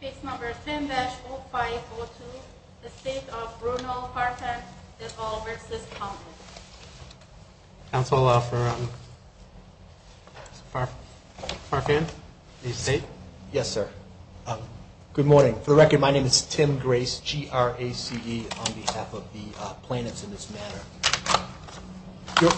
Case number 10-0502, the state of Brunel, Farfan v. Commonwealth. Counselor for Farfan, the state? Yes, sir. Good morning. For the record, my name is Tim Grace, G-R-A-C-E, on behalf of the plaintiffs in this matter.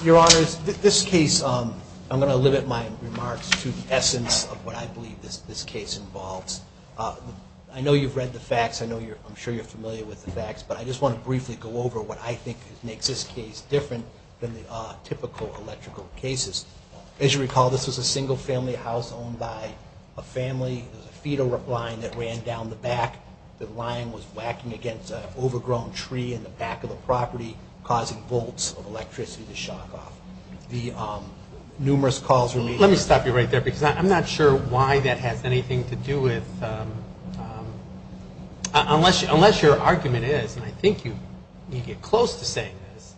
Your Honor, this case, I'm going to limit my remarks to the essence of what I believe this case involves. I know you've read the facts. I'm sure you're familiar with the facts. But I just want to briefly go over what I think makes this case different than the typical electrical cases. As you recall, this was a single-family house owned by a family. There was a fetal line that ran down the back. The line was whacking against an overgrown tree in the back of the property, causing bolts of electricity to shock off. The numerous calls were made... Let me stop you right there, because I'm not sure why that has anything to do with... Unless your argument is, and I think you get close to saying this,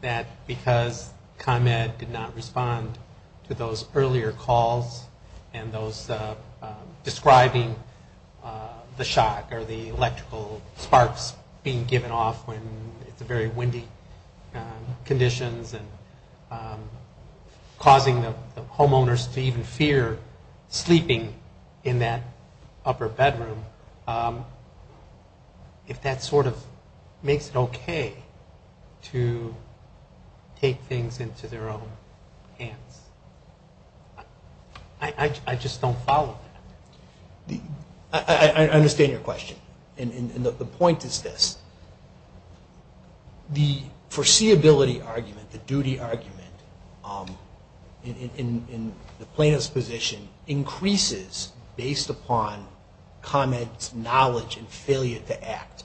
that because ComEd did not respond to those earlier calls, and those describing the shock, or the electrical sparks being given off when it's very windy conditions, and causing the homeowners to even fear sleeping in that upper bedroom, if that sort of makes it okay to take things into their own hands. I just don't follow that. I understand your question. And the point is this. The foreseeability argument, the duty argument, in the plaintiff's position, increases based upon ComEd's knowledge and failure to act.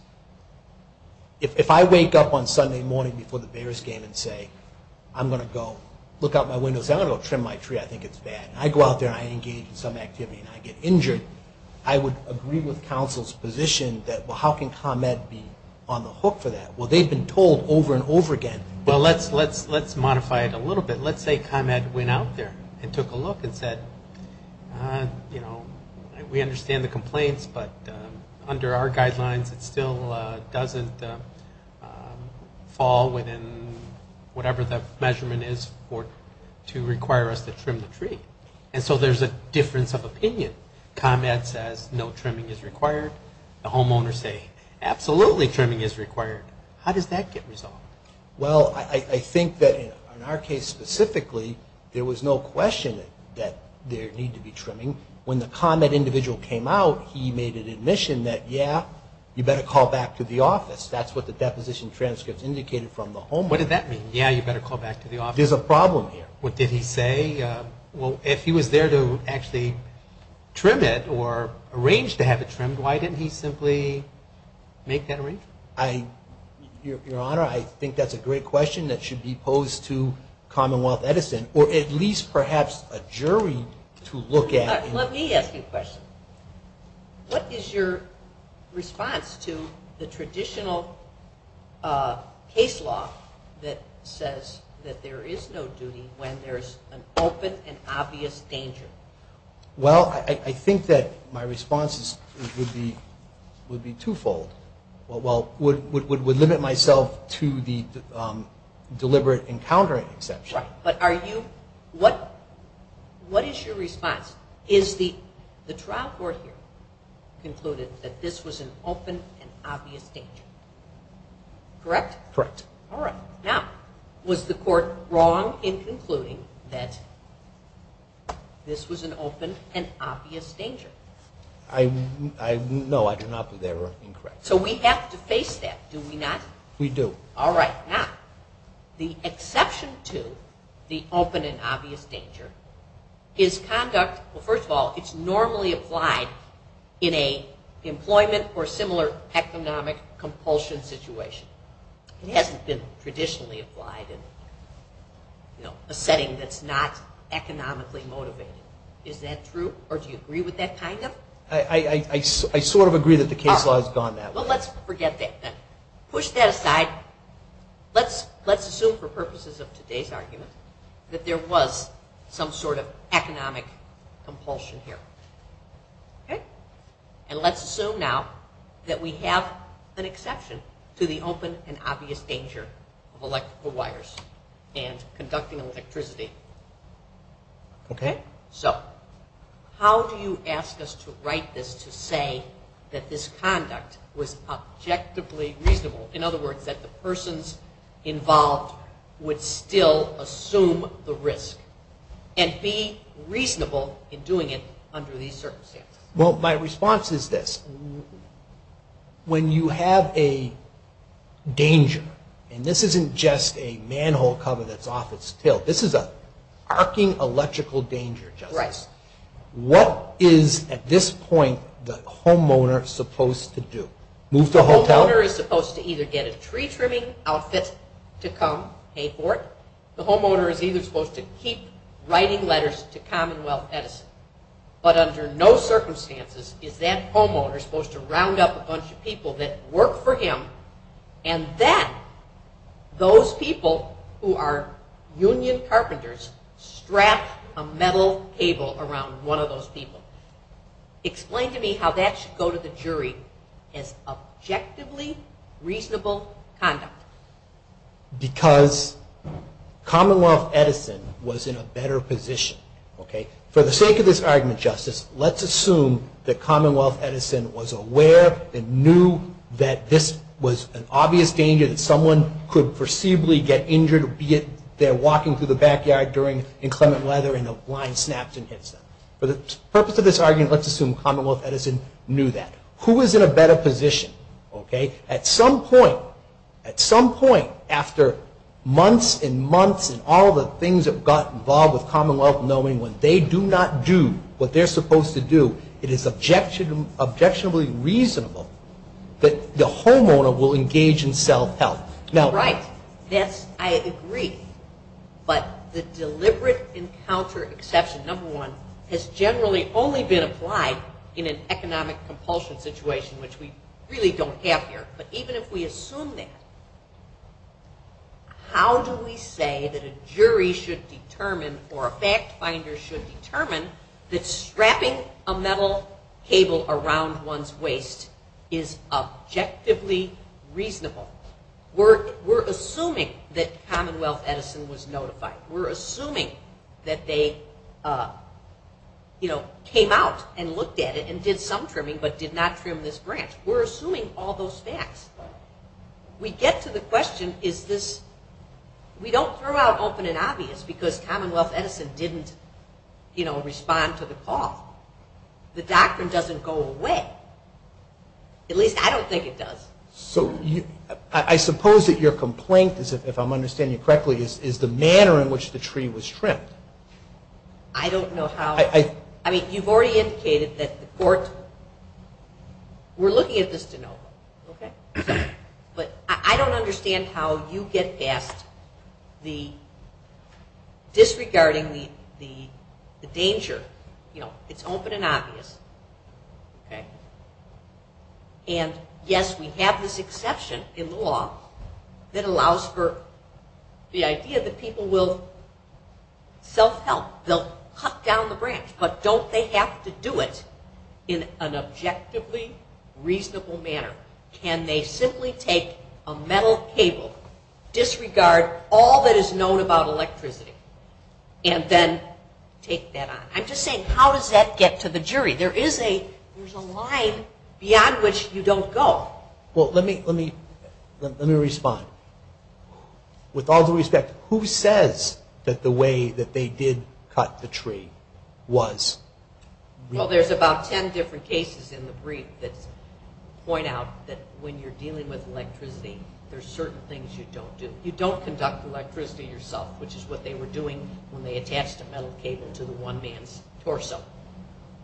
If I wake up on Sunday morning before the Bears game and say, I'm going to go look out my window and say, I'm going to go trim my tree, I think it's bad, and I go out there and I engage in some activity and I get injured, I would agree with counsel's position that, well, how can ComEd be on the hook for that? Well, they've been told over and over again... Well, let's modify it a little bit. Let's say ComEd went out there and took a look and said, we understand the complaints, but under our guidelines, it still doesn't fall within whatever the measurement is to require us to trim the tree. And so there's a difference of opinion. ComEd says no trimming is required. The homeowners say absolutely trimming is required. How does that get resolved? Well, I think that in our case specifically, there was no question that there needed to be trimming. When the ComEd individual came out, he made an admission that, yeah, you better call back to the office. That's what the deposition transcripts indicated from the homeowner. What did that mean, yeah, you better call back to the office? There's a problem here. What did he say? Well, if he was there to actually trim it or arrange to have it trimmed, why didn't he simply make that arrangement? Your Honor, I think that's a great question that should be posed to Commonwealth Edison or at least perhaps a jury to look at. Let me ask you a question. What is your response to the traditional case law that says that there is no duty when there's an open and obvious danger? Well, I think that my response would be twofold. Well, would limit myself to the deliberate encountering exception. Right. But are you – what is your response? Is the trial court here concluded that this was an open and obvious danger? Correct? Correct. All right. Now, was the court wrong in concluding that this was an open and obvious danger? No, I do not believe they were incorrect. So we have to face that, do we not? We do. All right. Now, the exception to the open and obvious danger is conduct – well, first of all, it's normally applied in an employment or similar economic compulsion situation. It hasn't been traditionally applied in a setting that's not economically motivated. Is that true, or do you agree with that kind of? I sort of agree that the case law has gone that way. Well, let's forget that then. Push that aside. Let's assume for purposes of today's argument that there was some sort of economic compulsion here. Okay? And let's assume now that we have an exception to the open and obvious danger of electrical wires and conducting electricity. Okay? So how do you ask us to write this to say that this conduct was objectively reasonable? In other words, that the persons involved would still assume the risk and be reasonable in doing it under these circumstances? Well, my response is this. When you have a danger, and this isn't just a manhole cover that's off its tilt. This is an arcing electrical danger, Justice. Right. What is, at this point, the homeowner supposed to do? Move to a hotel? The homeowner is supposed to either get a tree-trimming outfit to come pay for it. The homeowner is either supposed to keep writing letters to Commonwealth Edison. But under no circumstances is that homeowner supposed to round up a bunch of people that work for him, and then those people who are union carpenters strap a metal cable around one of those people. Explain to me how that should go to the jury as objectively reasonable conduct. Because Commonwealth Edison was in a better position. For the sake of this argument, Justice, let's assume that Commonwealth Edison was aware and knew that this was an obvious danger that someone could foreseeably get injured, be it they're walking through the backyard during inclement weather and a line snaps and hits them. For the purpose of this argument, let's assume Commonwealth Edison knew that. Who is in a better position? At some point, after months and months and all the things that got involved with Commonwealth knowing when they do not do what they're supposed to do, it is objectionably reasonable that the homeowner will engage in self-help. Right. Yes, I agree. But the deliberate encounter exception, number one, has generally only been applied in an economic compulsion situation, which we really don't have here. But even if we assume that, how do we say that a jury should determine or a fact finder should determine that strapping a metal cable around one's waist is objectively reasonable? We're assuming that Commonwealth Edison was notified. We're assuming that they came out and looked at it and did some trimming but did not trim this branch. We're assuming all those facts. We get to the question, is this, we don't throw out open and obvious because Commonwealth Edison didn't respond to the call. The doctrine doesn't go away. At least I don't think it does. I suppose that your complaint, if I'm understanding you correctly, is the manner in which the tree was trimmed. I don't know how. You've already indicated that the court, we're looking at this to know. But I don't understand how you get past the disregarding the danger. It's open and obvious. And yes, we have this exception in the law that allows for the idea that people will self-help. They'll cut down the branch, but don't they have to do it in an objectively reasonable manner? Can they simply take a metal cable, disregard all that is known about electricity, and then take that on? I'm just saying, how does that get to the jury? There is a line beyond which you don't go. Well, let me respond. With all due respect, who says that the way that they did cut the tree was reasonable? Well, there's about ten different cases in the brief that point out that when you're dealing with electricity, there's certain things you don't do. You don't conduct electricity yourself, which is what they were doing when they attached a metal cable to the one man's torso.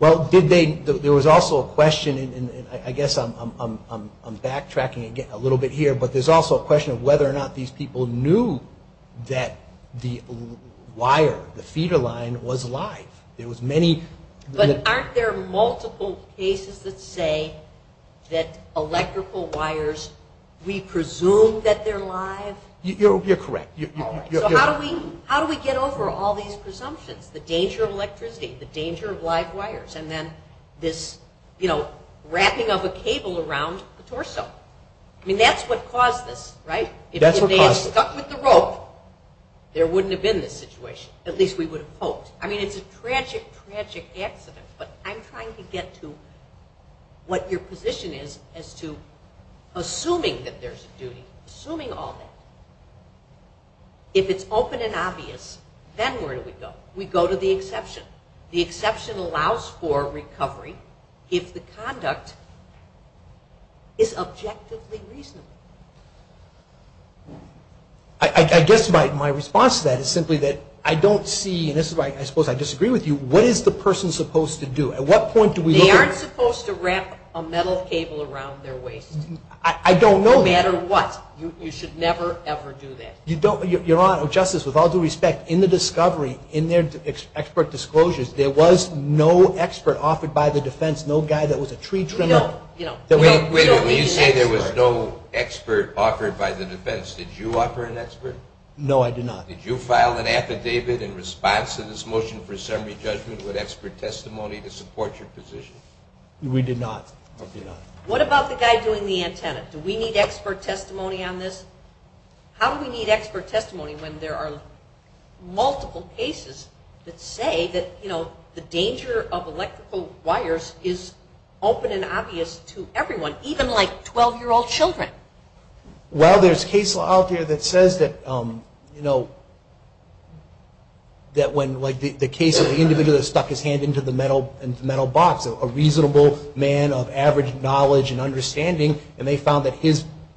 Well, there was also a question, and I guess I'm backtracking a little bit here, but there's also a question of whether or not these people knew that the wire, the feeder line, was live. But aren't there multiple cases that say that electrical wires, we presume that they're live? You're correct. So how do we get over all these presumptions? The danger of electricity, the danger of live wires, and then this wrapping of a cable around the torso. I mean, that's what caused this, right? That's what caused it. If they had stuck with the rope, there wouldn't have been this situation. At least we would have hoped. I mean, it's a tragic, tragic accident, but I'm trying to get to what your position is as to assuming that there's a duty, assuming all that. If it's open and obvious, then where do we go? We go to the exception. The exception allows for recovery if the conduct is objectively reasonable. I guess my response to that is simply that I don't see, and this is why I suppose I disagree with you, what is the person supposed to do? At what point do we look at? They aren't supposed to wrap a metal cable around their waist. I don't know that. No matter what. You should never, ever do that. Your Honor, Justice, with all due respect, in the discovery, in their expert disclosures, there was no expert offered by the defense, no guy that was a tree trimmer. Wait a minute. When you say there was no expert offered by the defense, did you offer an expert? No, I did not. Did you file an affidavit in response to this motion for a summary judgment with expert testimony to support your position? We did not. What about the guy doing the antenna? Do we need expert testimony on this? How do we need expert testimony when there are multiple cases that say that the danger of electrical wires is open and obvious to everyone, even like 12-year-old children? Well, there's a case out there that says that when the case of the individual that stuck his hand into the metal box, a reasonable man of average knowledge and understanding, and they found that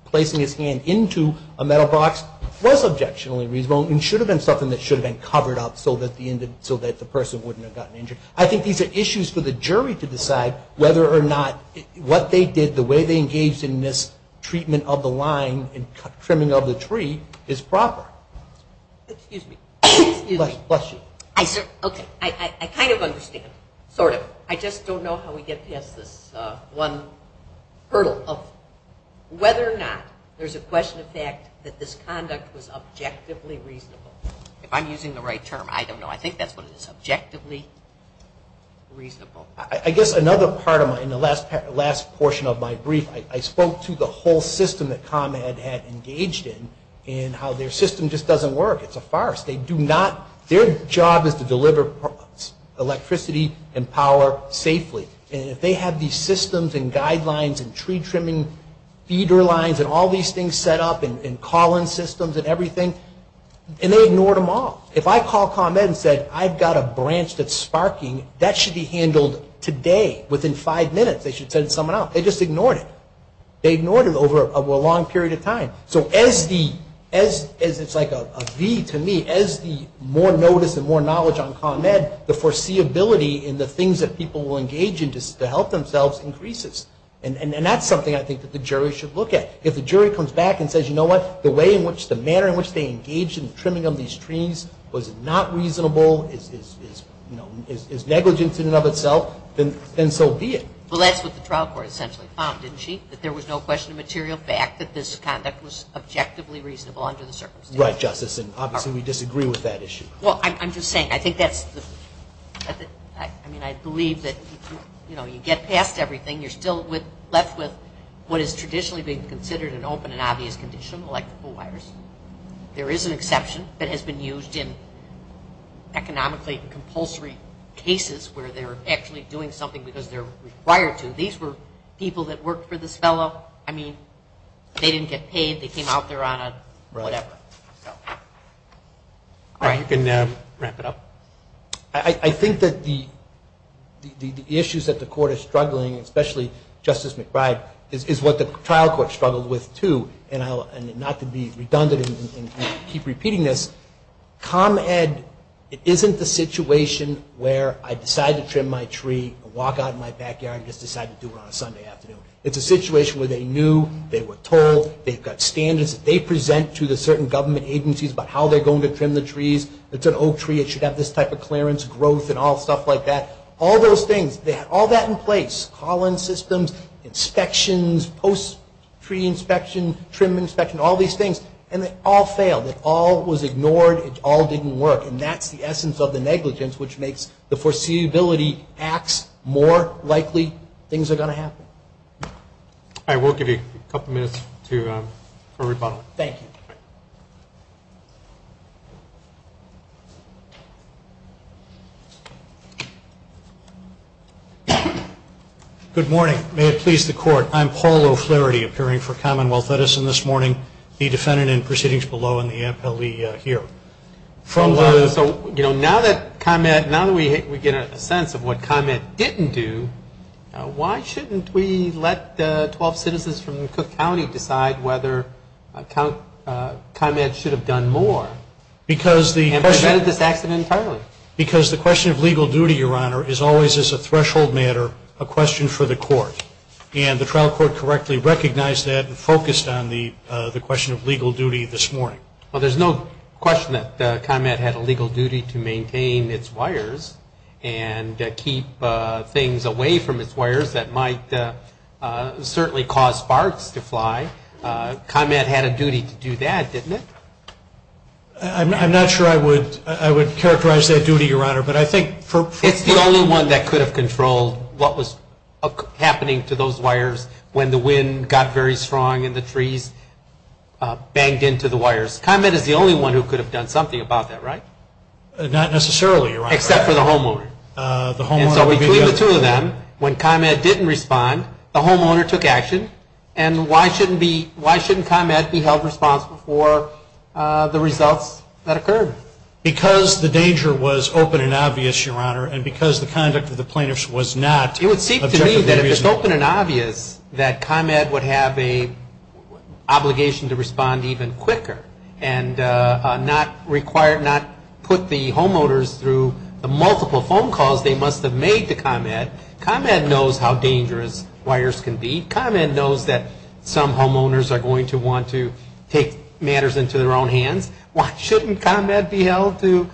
placing his hand into a metal box was objectionably reasonable and should have been something that should have been covered up so that the person wouldn't have gotten injured. I think these are issues for the jury to decide whether or not what they did, the way they engaged in this treatment of the line and trimming of the tree is proper. Excuse me. Bless you. Okay. I kind of understand, sort of. I just don't know how we get past this one hurdle of whether or not there's a question of fact that this conduct was objectively reasonable. If I'm using the right term, I don't know. I think that's what it is, objectively reasonable. I guess another part of my last portion of my brief, I spoke to the whole system that ComEd had engaged in and how their system just doesn't work. It's a forest. They do not – their job is to deliver electricity and power safely. And if they have these systems and guidelines and tree trimming feeder lines and all these things set up and call-in systems and everything, and they ignored them all. If I call ComEd and said, I've got a branch that's sparking, that should be handled today, within five minutes. They should send someone out. They just ignored it. They ignored it over a long period of time. So as the – it's like a V to me. As the more notice and more knowledge on ComEd, the foreseeability and the things that people will engage in to help themselves increases. And that's something I think that the jury should look at. If the jury comes back and says, you know what, the way in which – the manner in which they engaged in the trimming of these trees was not reasonable, is negligent in and of itself, then so be it. Well, that's what the trial court essentially found, didn't she? That there was no question of material fact that this conduct was objectively reasonable under the circumstances. Right, Justice, and obviously we disagree with that issue. Well, I'm just saying, I think that's the – I mean, I believe that, you know, you get past everything. You're still left with what is traditionally being considered an open and obvious condition, like the pool wires. There is an exception that has been used in economically compulsory cases where they're actually doing something because they're required to. These were people that worked for this fellow. I mean, they didn't get paid. They came out there on a whatever. You can wrap it up. I think that the issues that the court is struggling, especially Justice McBride, is what the trial court struggled with, too. And not to be redundant and keep repeating this, ComEd isn't the situation where I decide to trim my tree, walk out in my backyard and just decide to do it on a Sunday afternoon. It's a situation where they knew, they were told, they've got standards that they present to the certain government agencies about how they're going to provide this type of clearance, growth, and all stuff like that. All those things, they had all that in place. Call-in systems, inspections, post-tree inspection, trim inspection, all these things, and they all failed. It all was ignored. It all didn't work. And that's the essence of the negligence, which makes the foreseeability acts more likely things are going to happen. All right. We'll give you a couple minutes for rebuttal. Thank you. Good morning. May it please the Court. I'm Paul O'Flaherty, appearing for Commonwealth Edison this morning, the defendant in proceedings below and the appellee here. So, you know, now that ComEd, now that we get a sense of what ComEd didn't do, why shouldn't we let the 12 citizens from Cook County decide whether ComEd should have done more and prevented this accident entirely? Because the question of legal duty, Your Honor, is always, as a threshold matter, a question for the Court. And the trial court correctly recognized that and focused on the question of legal duty this morning. Well, there's no question that ComEd had a legal duty to maintain its wires and keep things away from its wires that might certainly cause sparks to fly. ComEd had a duty to do that, didn't it? I'm not sure I would characterize that duty, Your Honor, but I think for – It's the only one that could have controlled what was happening to those wires when the wind got very strong and the trees banged into the wires. ComEd is the only one who could have done something about that, right? Not necessarily, Your Honor. Except for the homeowner. And so between the two of them, when ComEd didn't respond, the homeowner took action. And why shouldn't ComEd be held responsible for the results that occurred? Because the danger was open and obvious, Your Honor, and because the conduct of the plaintiffs was not objectively reasonable. It would seem to me that if it's open and obvious, that ComEd would have an obligation to respond even quicker and not put the homeowners through the multiple phone calls they must have made to ComEd. ComEd knows how dangerous wires can be. ComEd knows that some homeowners are going to want to take matters into their own hands. Why shouldn't ComEd be held to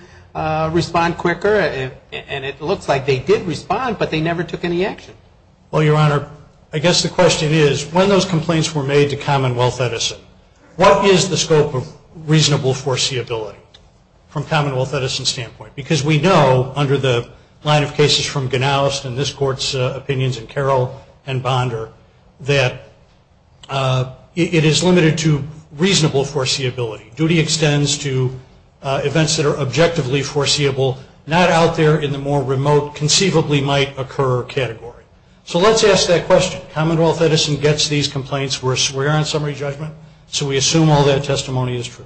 respond quicker? And it looks like they did respond, but they never took any action. Well, Your Honor, I guess the question is, when those complaints were made to Commonwealth Edison, what is the scope of reasonable foreseeability from Commonwealth Edison's standpoint? Because we know, under the line of cases from Ganoust and this Court's opinions in Carroll and Bonder, that it is limited to reasonable foreseeability. Duty extends to events that are objectively foreseeable, not out there in the more remote, conceivably might occur category. So let's ask that question. Commonwealth Edison gets these complaints. We're on summary judgment, so we assume all that testimony is true.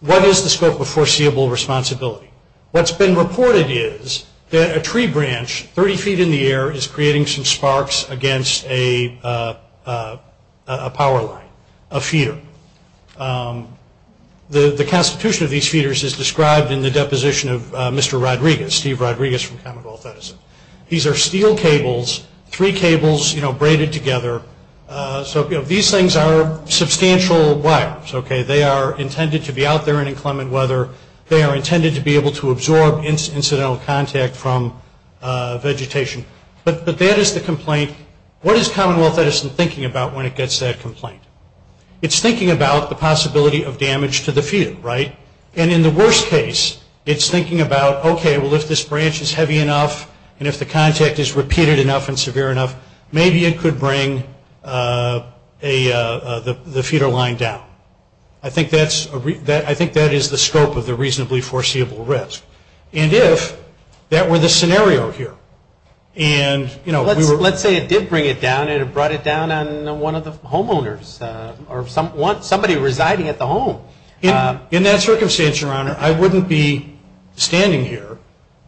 What is the scope of foreseeable responsibility? What's been reported is that a tree branch 30 feet in the air is creating some sparks against a power line, a feeder. The constitution of these feeders is described in the deposition of Mr. Rodriguez, Steve Rodriguez from Commonwealth Edison. These are steel cables, three cables braided together. So these things are substantial wires, okay? They are intended to be out there in inclement weather. They are intended to be able to absorb incidental contact from vegetation. But that is the complaint. What is Commonwealth Edison thinking about when it gets that complaint? It's thinking about the possibility of damage to the feeder, right? And in the worst case, it's thinking about, okay, well, if this branch is heavy enough and if the contact is repeated enough and severe enough, maybe it could bring the feeder line down. I think that is the scope of the reasonably foreseeable risk. And if that were the scenario here and, you know, we were... Let's say it did bring it down and it brought it down on one of the homeowners or somebody residing at the home. In that circumstance, Your Honor, I wouldn't be standing here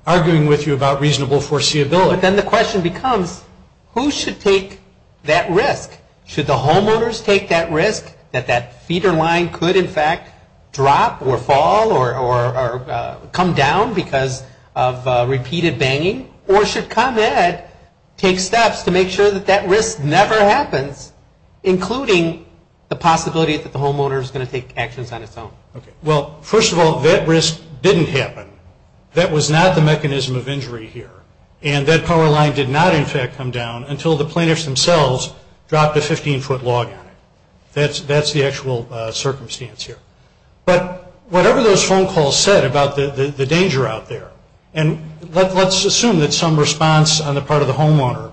arguing with you about reasonable foreseeability. But then the question becomes, who should take that risk? Should the homeowners take that risk that that feeder line could, in fact, drop or fall or come down because of repeated banging? Or should ComEd take steps to make sure that that risk never happens, including the possibility that the homeowner is going to take actions on its own? Well, first of all, that risk didn't happen. That was not the mechanism of injury here. And that power line did not, in fact, come down until the plaintiffs themselves dropped a 15-foot log on it. That's the actual circumstance here. But whatever those phone calls said about the danger out there, And let's assume that some response on the part of the homeowner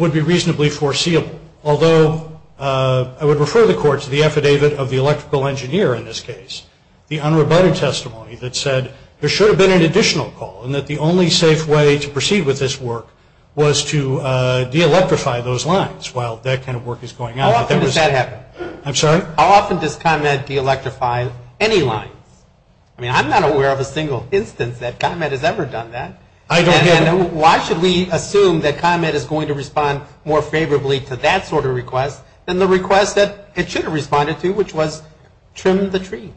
would be reasonably foreseeable, although I would refer the Court to the affidavit of the electrical engineer in this case, the unrebutted testimony that said there should have been an additional call and that the only safe way to proceed with this work was to de-electrify those lines while that kind of work is going on. How often does that happen? I'm sorry? How often does ComEd de-electrify any lines? I mean, I'm not aware of a single instance that ComEd has ever done that. And why should we assume that ComEd is going to respond more favorably to that sort of request than the request that it should have responded to, which was trim the tree?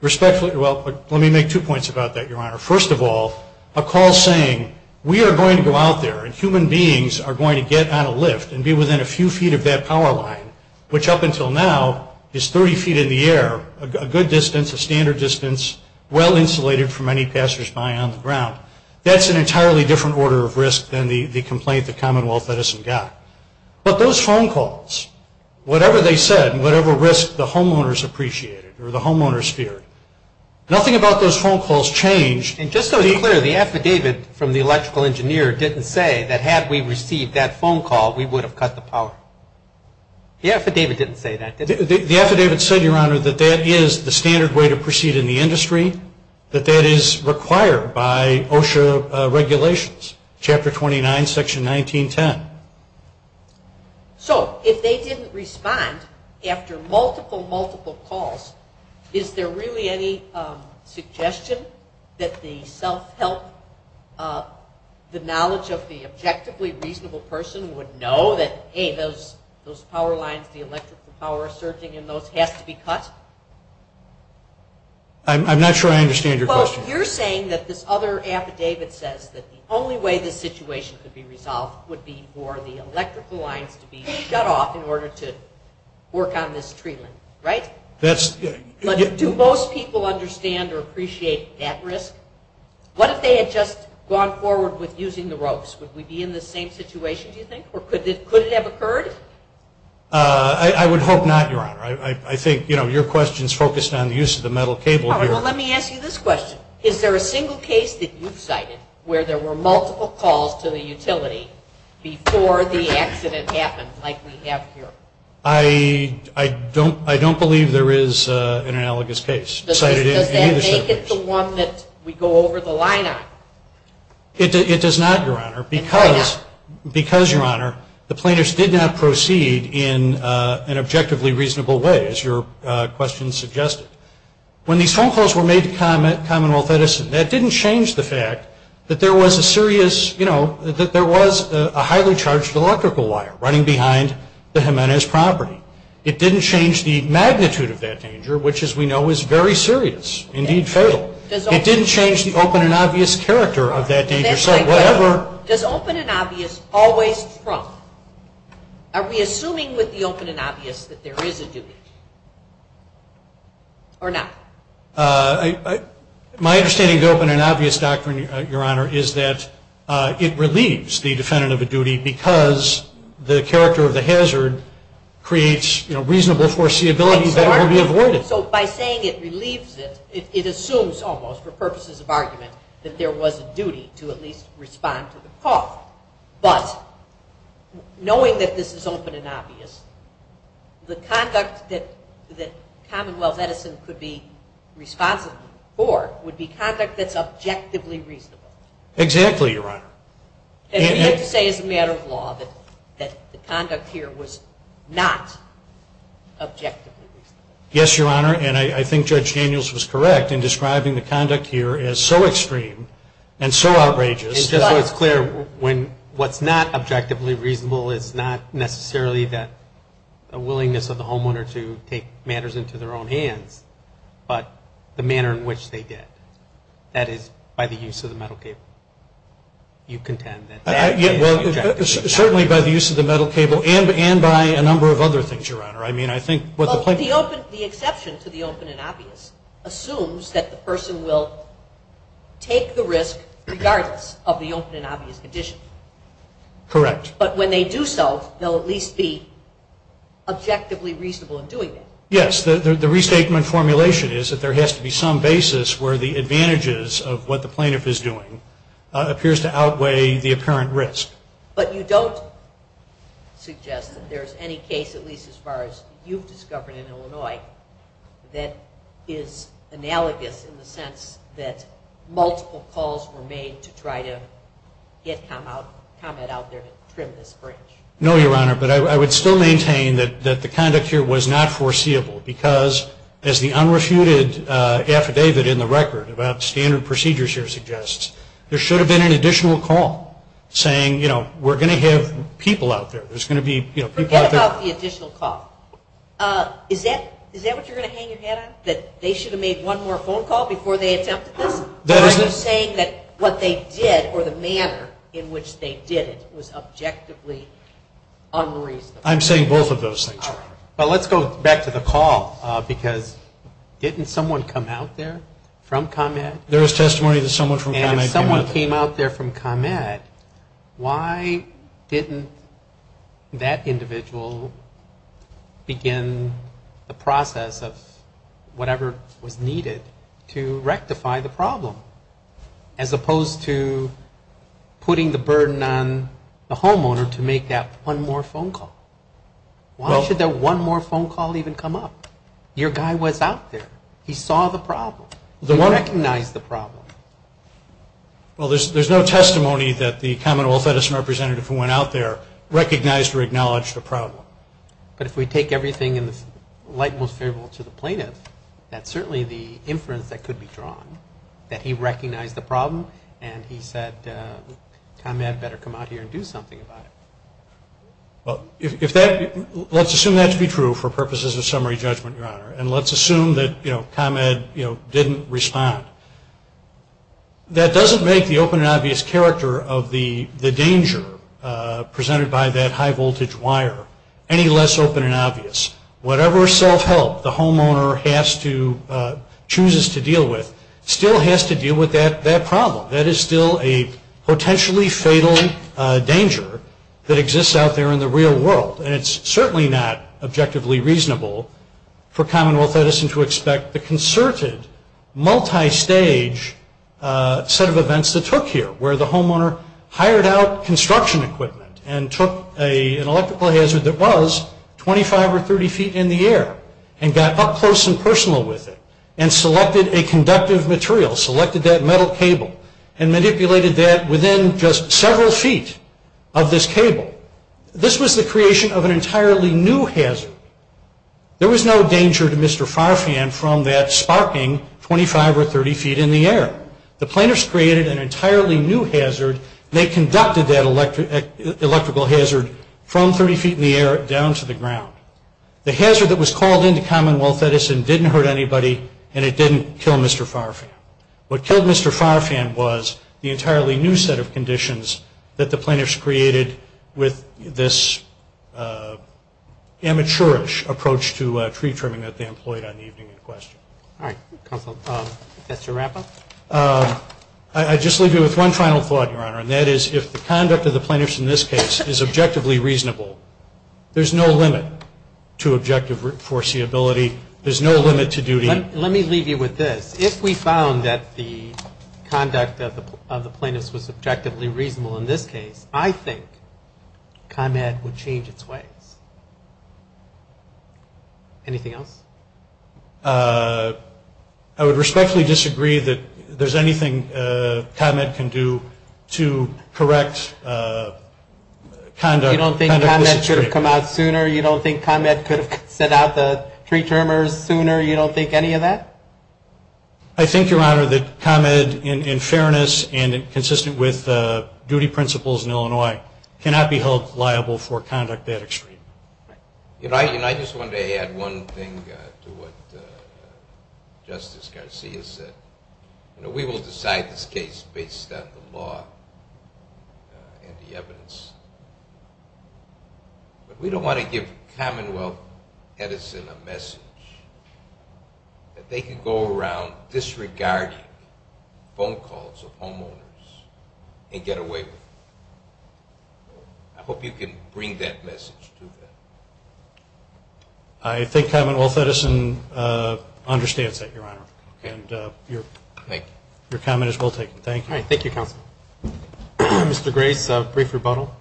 Respectfully, well, let me make two points about that, Your Honor. First of all, a call saying we are going to go out there and human beings are going to get on a lift and be within a few feet of that power line, which up until now is 30 feet in the air, a good distance, a standard distance, well insulated from any passersby on the ground. That's an entirely different order of risk than the complaint that Commonwealth Edison got. But those phone calls, whatever they said and whatever risk the homeowners appreciated or the homeowners feared, nothing about those phone calls changed. And just so it's clear, the affidavit from the electrical engineer didn't say that had we received that phone call, we would have cut the power. The affidavit didn't say that, did it? The affidavit said, Your Honor, that that is the standard way to proceed in the industry, that that is required by OSHA regulations, Chapter 29, Section 1910. So if they didn't respond after multiple, multiple calls, is there really any suggestion that the self-help, the knowledge of the objectively reasonable person would know that, hey, those power lines, the electrical power surging in those has to be cut? I'm not sure I understand your question. Well, you're saying that this other affidavit says that the only way this situation could be resolved would be for the electrical lines to be cut off in order to work on this tree limb, right? Do most people understand or appreciate that risk? What if they had just gone forward with using the ropes? Would we be in the same situation, do you think, or could it have occurred? I would hope not, Your Honor. I think, you know, your question is focused on the use of the metal cable here. All right, well, let me ask you this question. Is there a single case that you've cited where there were multiple calls to the utility before the accident happened like we have here? I don't believe there is an analogous case. Does that make it the one that we go over the line on? It does not, Your Honor. Because, Your Honor, the plaintiffs did not proceed in an objectively reasonable way, as your question suggested. When these phone calls were made to Commonwealth Edison, that didn't change the fact that there was a serious, you know, that there was a highly charged electrical wire running behind the Jimenez property. It didn't change the magnitude of that danger, which, as we know, is very serious, indeed fatal. It didn't change the open and obvious character of that danger. Does open and obvious always trump? Are we assuming with the open and obvious that there is a duty? Or not? My understanding of the open and obvious doctrine, Your Honor, is that it relieves the defendant of a duty because the character of the hazard creates, you know, reasonable foreseeability that will be avoided. So by saying it relieves it, it assumes almost, for purposes of argument, that there was a duty to at least respond to the call. But knowing that this is open and obvious, the conduct that Commonwealth Edison could be responsible for would be conduct that's objectively reasonable. Exactly, Your Honor. And we have to say as a matter of law that the conduct here was not objectively reasonable. Yes, Your Honor. And I think Judge Daniels was correct in describing the conduct here as so extreme and so outrageous. And just so it's clear, when what's not objectively reasonable, it's not necessarily the willingness of the homeowner to take matters into their own hands, but the manner in which they did. That is by the use of the metal cable. You contend that that is the objective. Certainly by the use of the metal cable and by a number of other things, Your Honor. The exception to the open and obvious assumes that the person will take the risk regardless of the open and obvious condition. Correct. But when they do so, they'll at least be objectively reasonable in doing it. Yes. The restatement formulation is that there has to be some basis where the advantages of what the plaintiff is doing appears to outweigh the apparent risk. But you don't suggest that there's any case, at least as far as you've discovered in Illinois, that is analogous in the sense that multiple calls were made to try to get comment out there and trim this bridge. No, Your Honor, but I would still maintain that the conduct here was not foreseeable because as the unrefuted affidavit in the record about standard procedures here suggests, there should have been an additional call saying, you know, we're going to have people out there. There's going to be, you know, people out there. Forget about the additional call. Is that what you're going to hang your head on, that they should have made one more phone call before they attempted this? Or are you saying that what they did or the manner in which they did it was objectively unreasonable? I'm saying both of those things, Your Honor. But let's go back to the call because didn't someone come out there from comment? There is testimony that someone from comment came out there. And if someone came out there from comment, why didn't that individual begin the process of whatever was needed to rectify the problem, as opposed to putting the burden on the homeowner to make that one more phone call? Why should that one more phone call even come up? Your guy was out there. He saw the problem. He recognized the problem. Well, there's no testimony that the commonwealth representative who went out there recognized or acknowledged the problem. But if we take everything in the light most favorable to the plaintiff, that's certainly the inference that could be drawn, that he recognized the problem and he said ComEd better come out here and do something about it. Well, let's assume that to be true for purposes of summary judgment, Your Honor. And let's assume that ComEd didn't respond. That doesn't make the open and obvious character of the danger presented by that high voltage wire any less open and obvious. Whatever self-help the homeowner chooses to deal with still has to deal with that problem. That is still a potentially fatal danger that exists out there in the real world. And it's certainly not objectively reasonable for Commonwealth Edison to expect the concerted, multi-stage set of events that took here where the homeowner hired out construction equipment and took an electrical hazard that was 25 or 30 feet in the air and got up close and personal with it and selected a conductive material, selected that metal cable, and manipulated that within just several feet of this cable. This was the creation of an entirely new hazard. There was no danger to Mr. Farfan from that sparking 25 or 30 feet in the air. The plaintiffs created an entirely new hazard. They conducted that electrical hazard from 30 feet in the air down to the ground. The hazard that was called into Commonwealth Edison didn't hurt anybody and it didn't kill Mr. Farfan. What killed Mr. Farfan was the entirely new set of conditions that the plaintiffs created with this amateurish approach to tree trimming that they employed on the evening in question. All right. Counsel, that's your wrap-up? I'd just leave you with one final thought, Your Honor, and that is if the conduct of the plaintiffs in this case is objectively reasonable, there's no limit to objective foreseeability. There's no limit to duty. Let me leave you with this. If we found that the conduct of the plaintiffs was objectively reasonable in this case, I think ComEd would change its ways. Anything else? I would respectfully disagree that there's anything ComEd can do to correct conduct. You don't think ComEd could have come out sooner? You don't think ComEd could have sent out the tree trimmers sooner? You don't think any of that? I think, Your Honor, that ComEd, in fairness and consistent with duty principles in Illinois, cannot be held liable for conduct that extreme. I just wanted to add one thing to what Justice Garcia said. We will decide this case based on the law and the evidence, but we don't want to give Commonwealth Edison a message that they can go around disregarding phone calls of homeowners and get away with it. I hope you can bring that message to them. I think Commonwealth Edison understands that, Your Honor. Okay. And your comment is well taken. Thank you. All right. Thank you, Counsel. Mr. Grace, a brief rebuttal.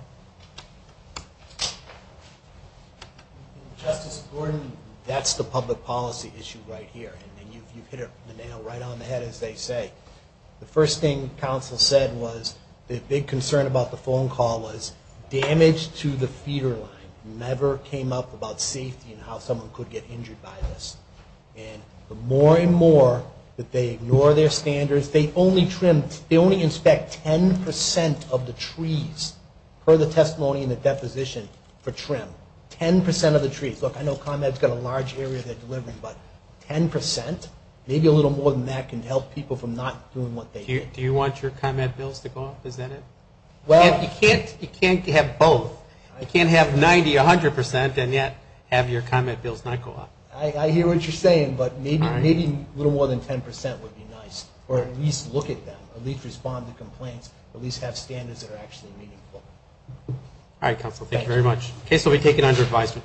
Justice Gordon, that's the public policy issue right here, and you've hit the nail right on the head, as they say. The first thing counsel said was the big concern about the phone call was damage to the feeder line never came up about safety and how someone could get injured by this. And the more and more that they ignore their standards, they only inspect 10% of the trees per the testimony and the deposition for trim, 10% of the trees. Look, I know ComEd's got a large area they're delivering, but 10%, maybe a little more than that can help people from not doing what they did. Do you want your ComEd bills to go up? Is that it? You can't have both. You can't have 90%, 100%, and yet have your ComEd bills not go up. I hear what you're saying, but maybe a little more than 10% would be nice. Or at least look at them, at least respond to complaints, at least have standards that are actually meaningful. All right, counsel. Thank you very much. The case will be taken under advisement.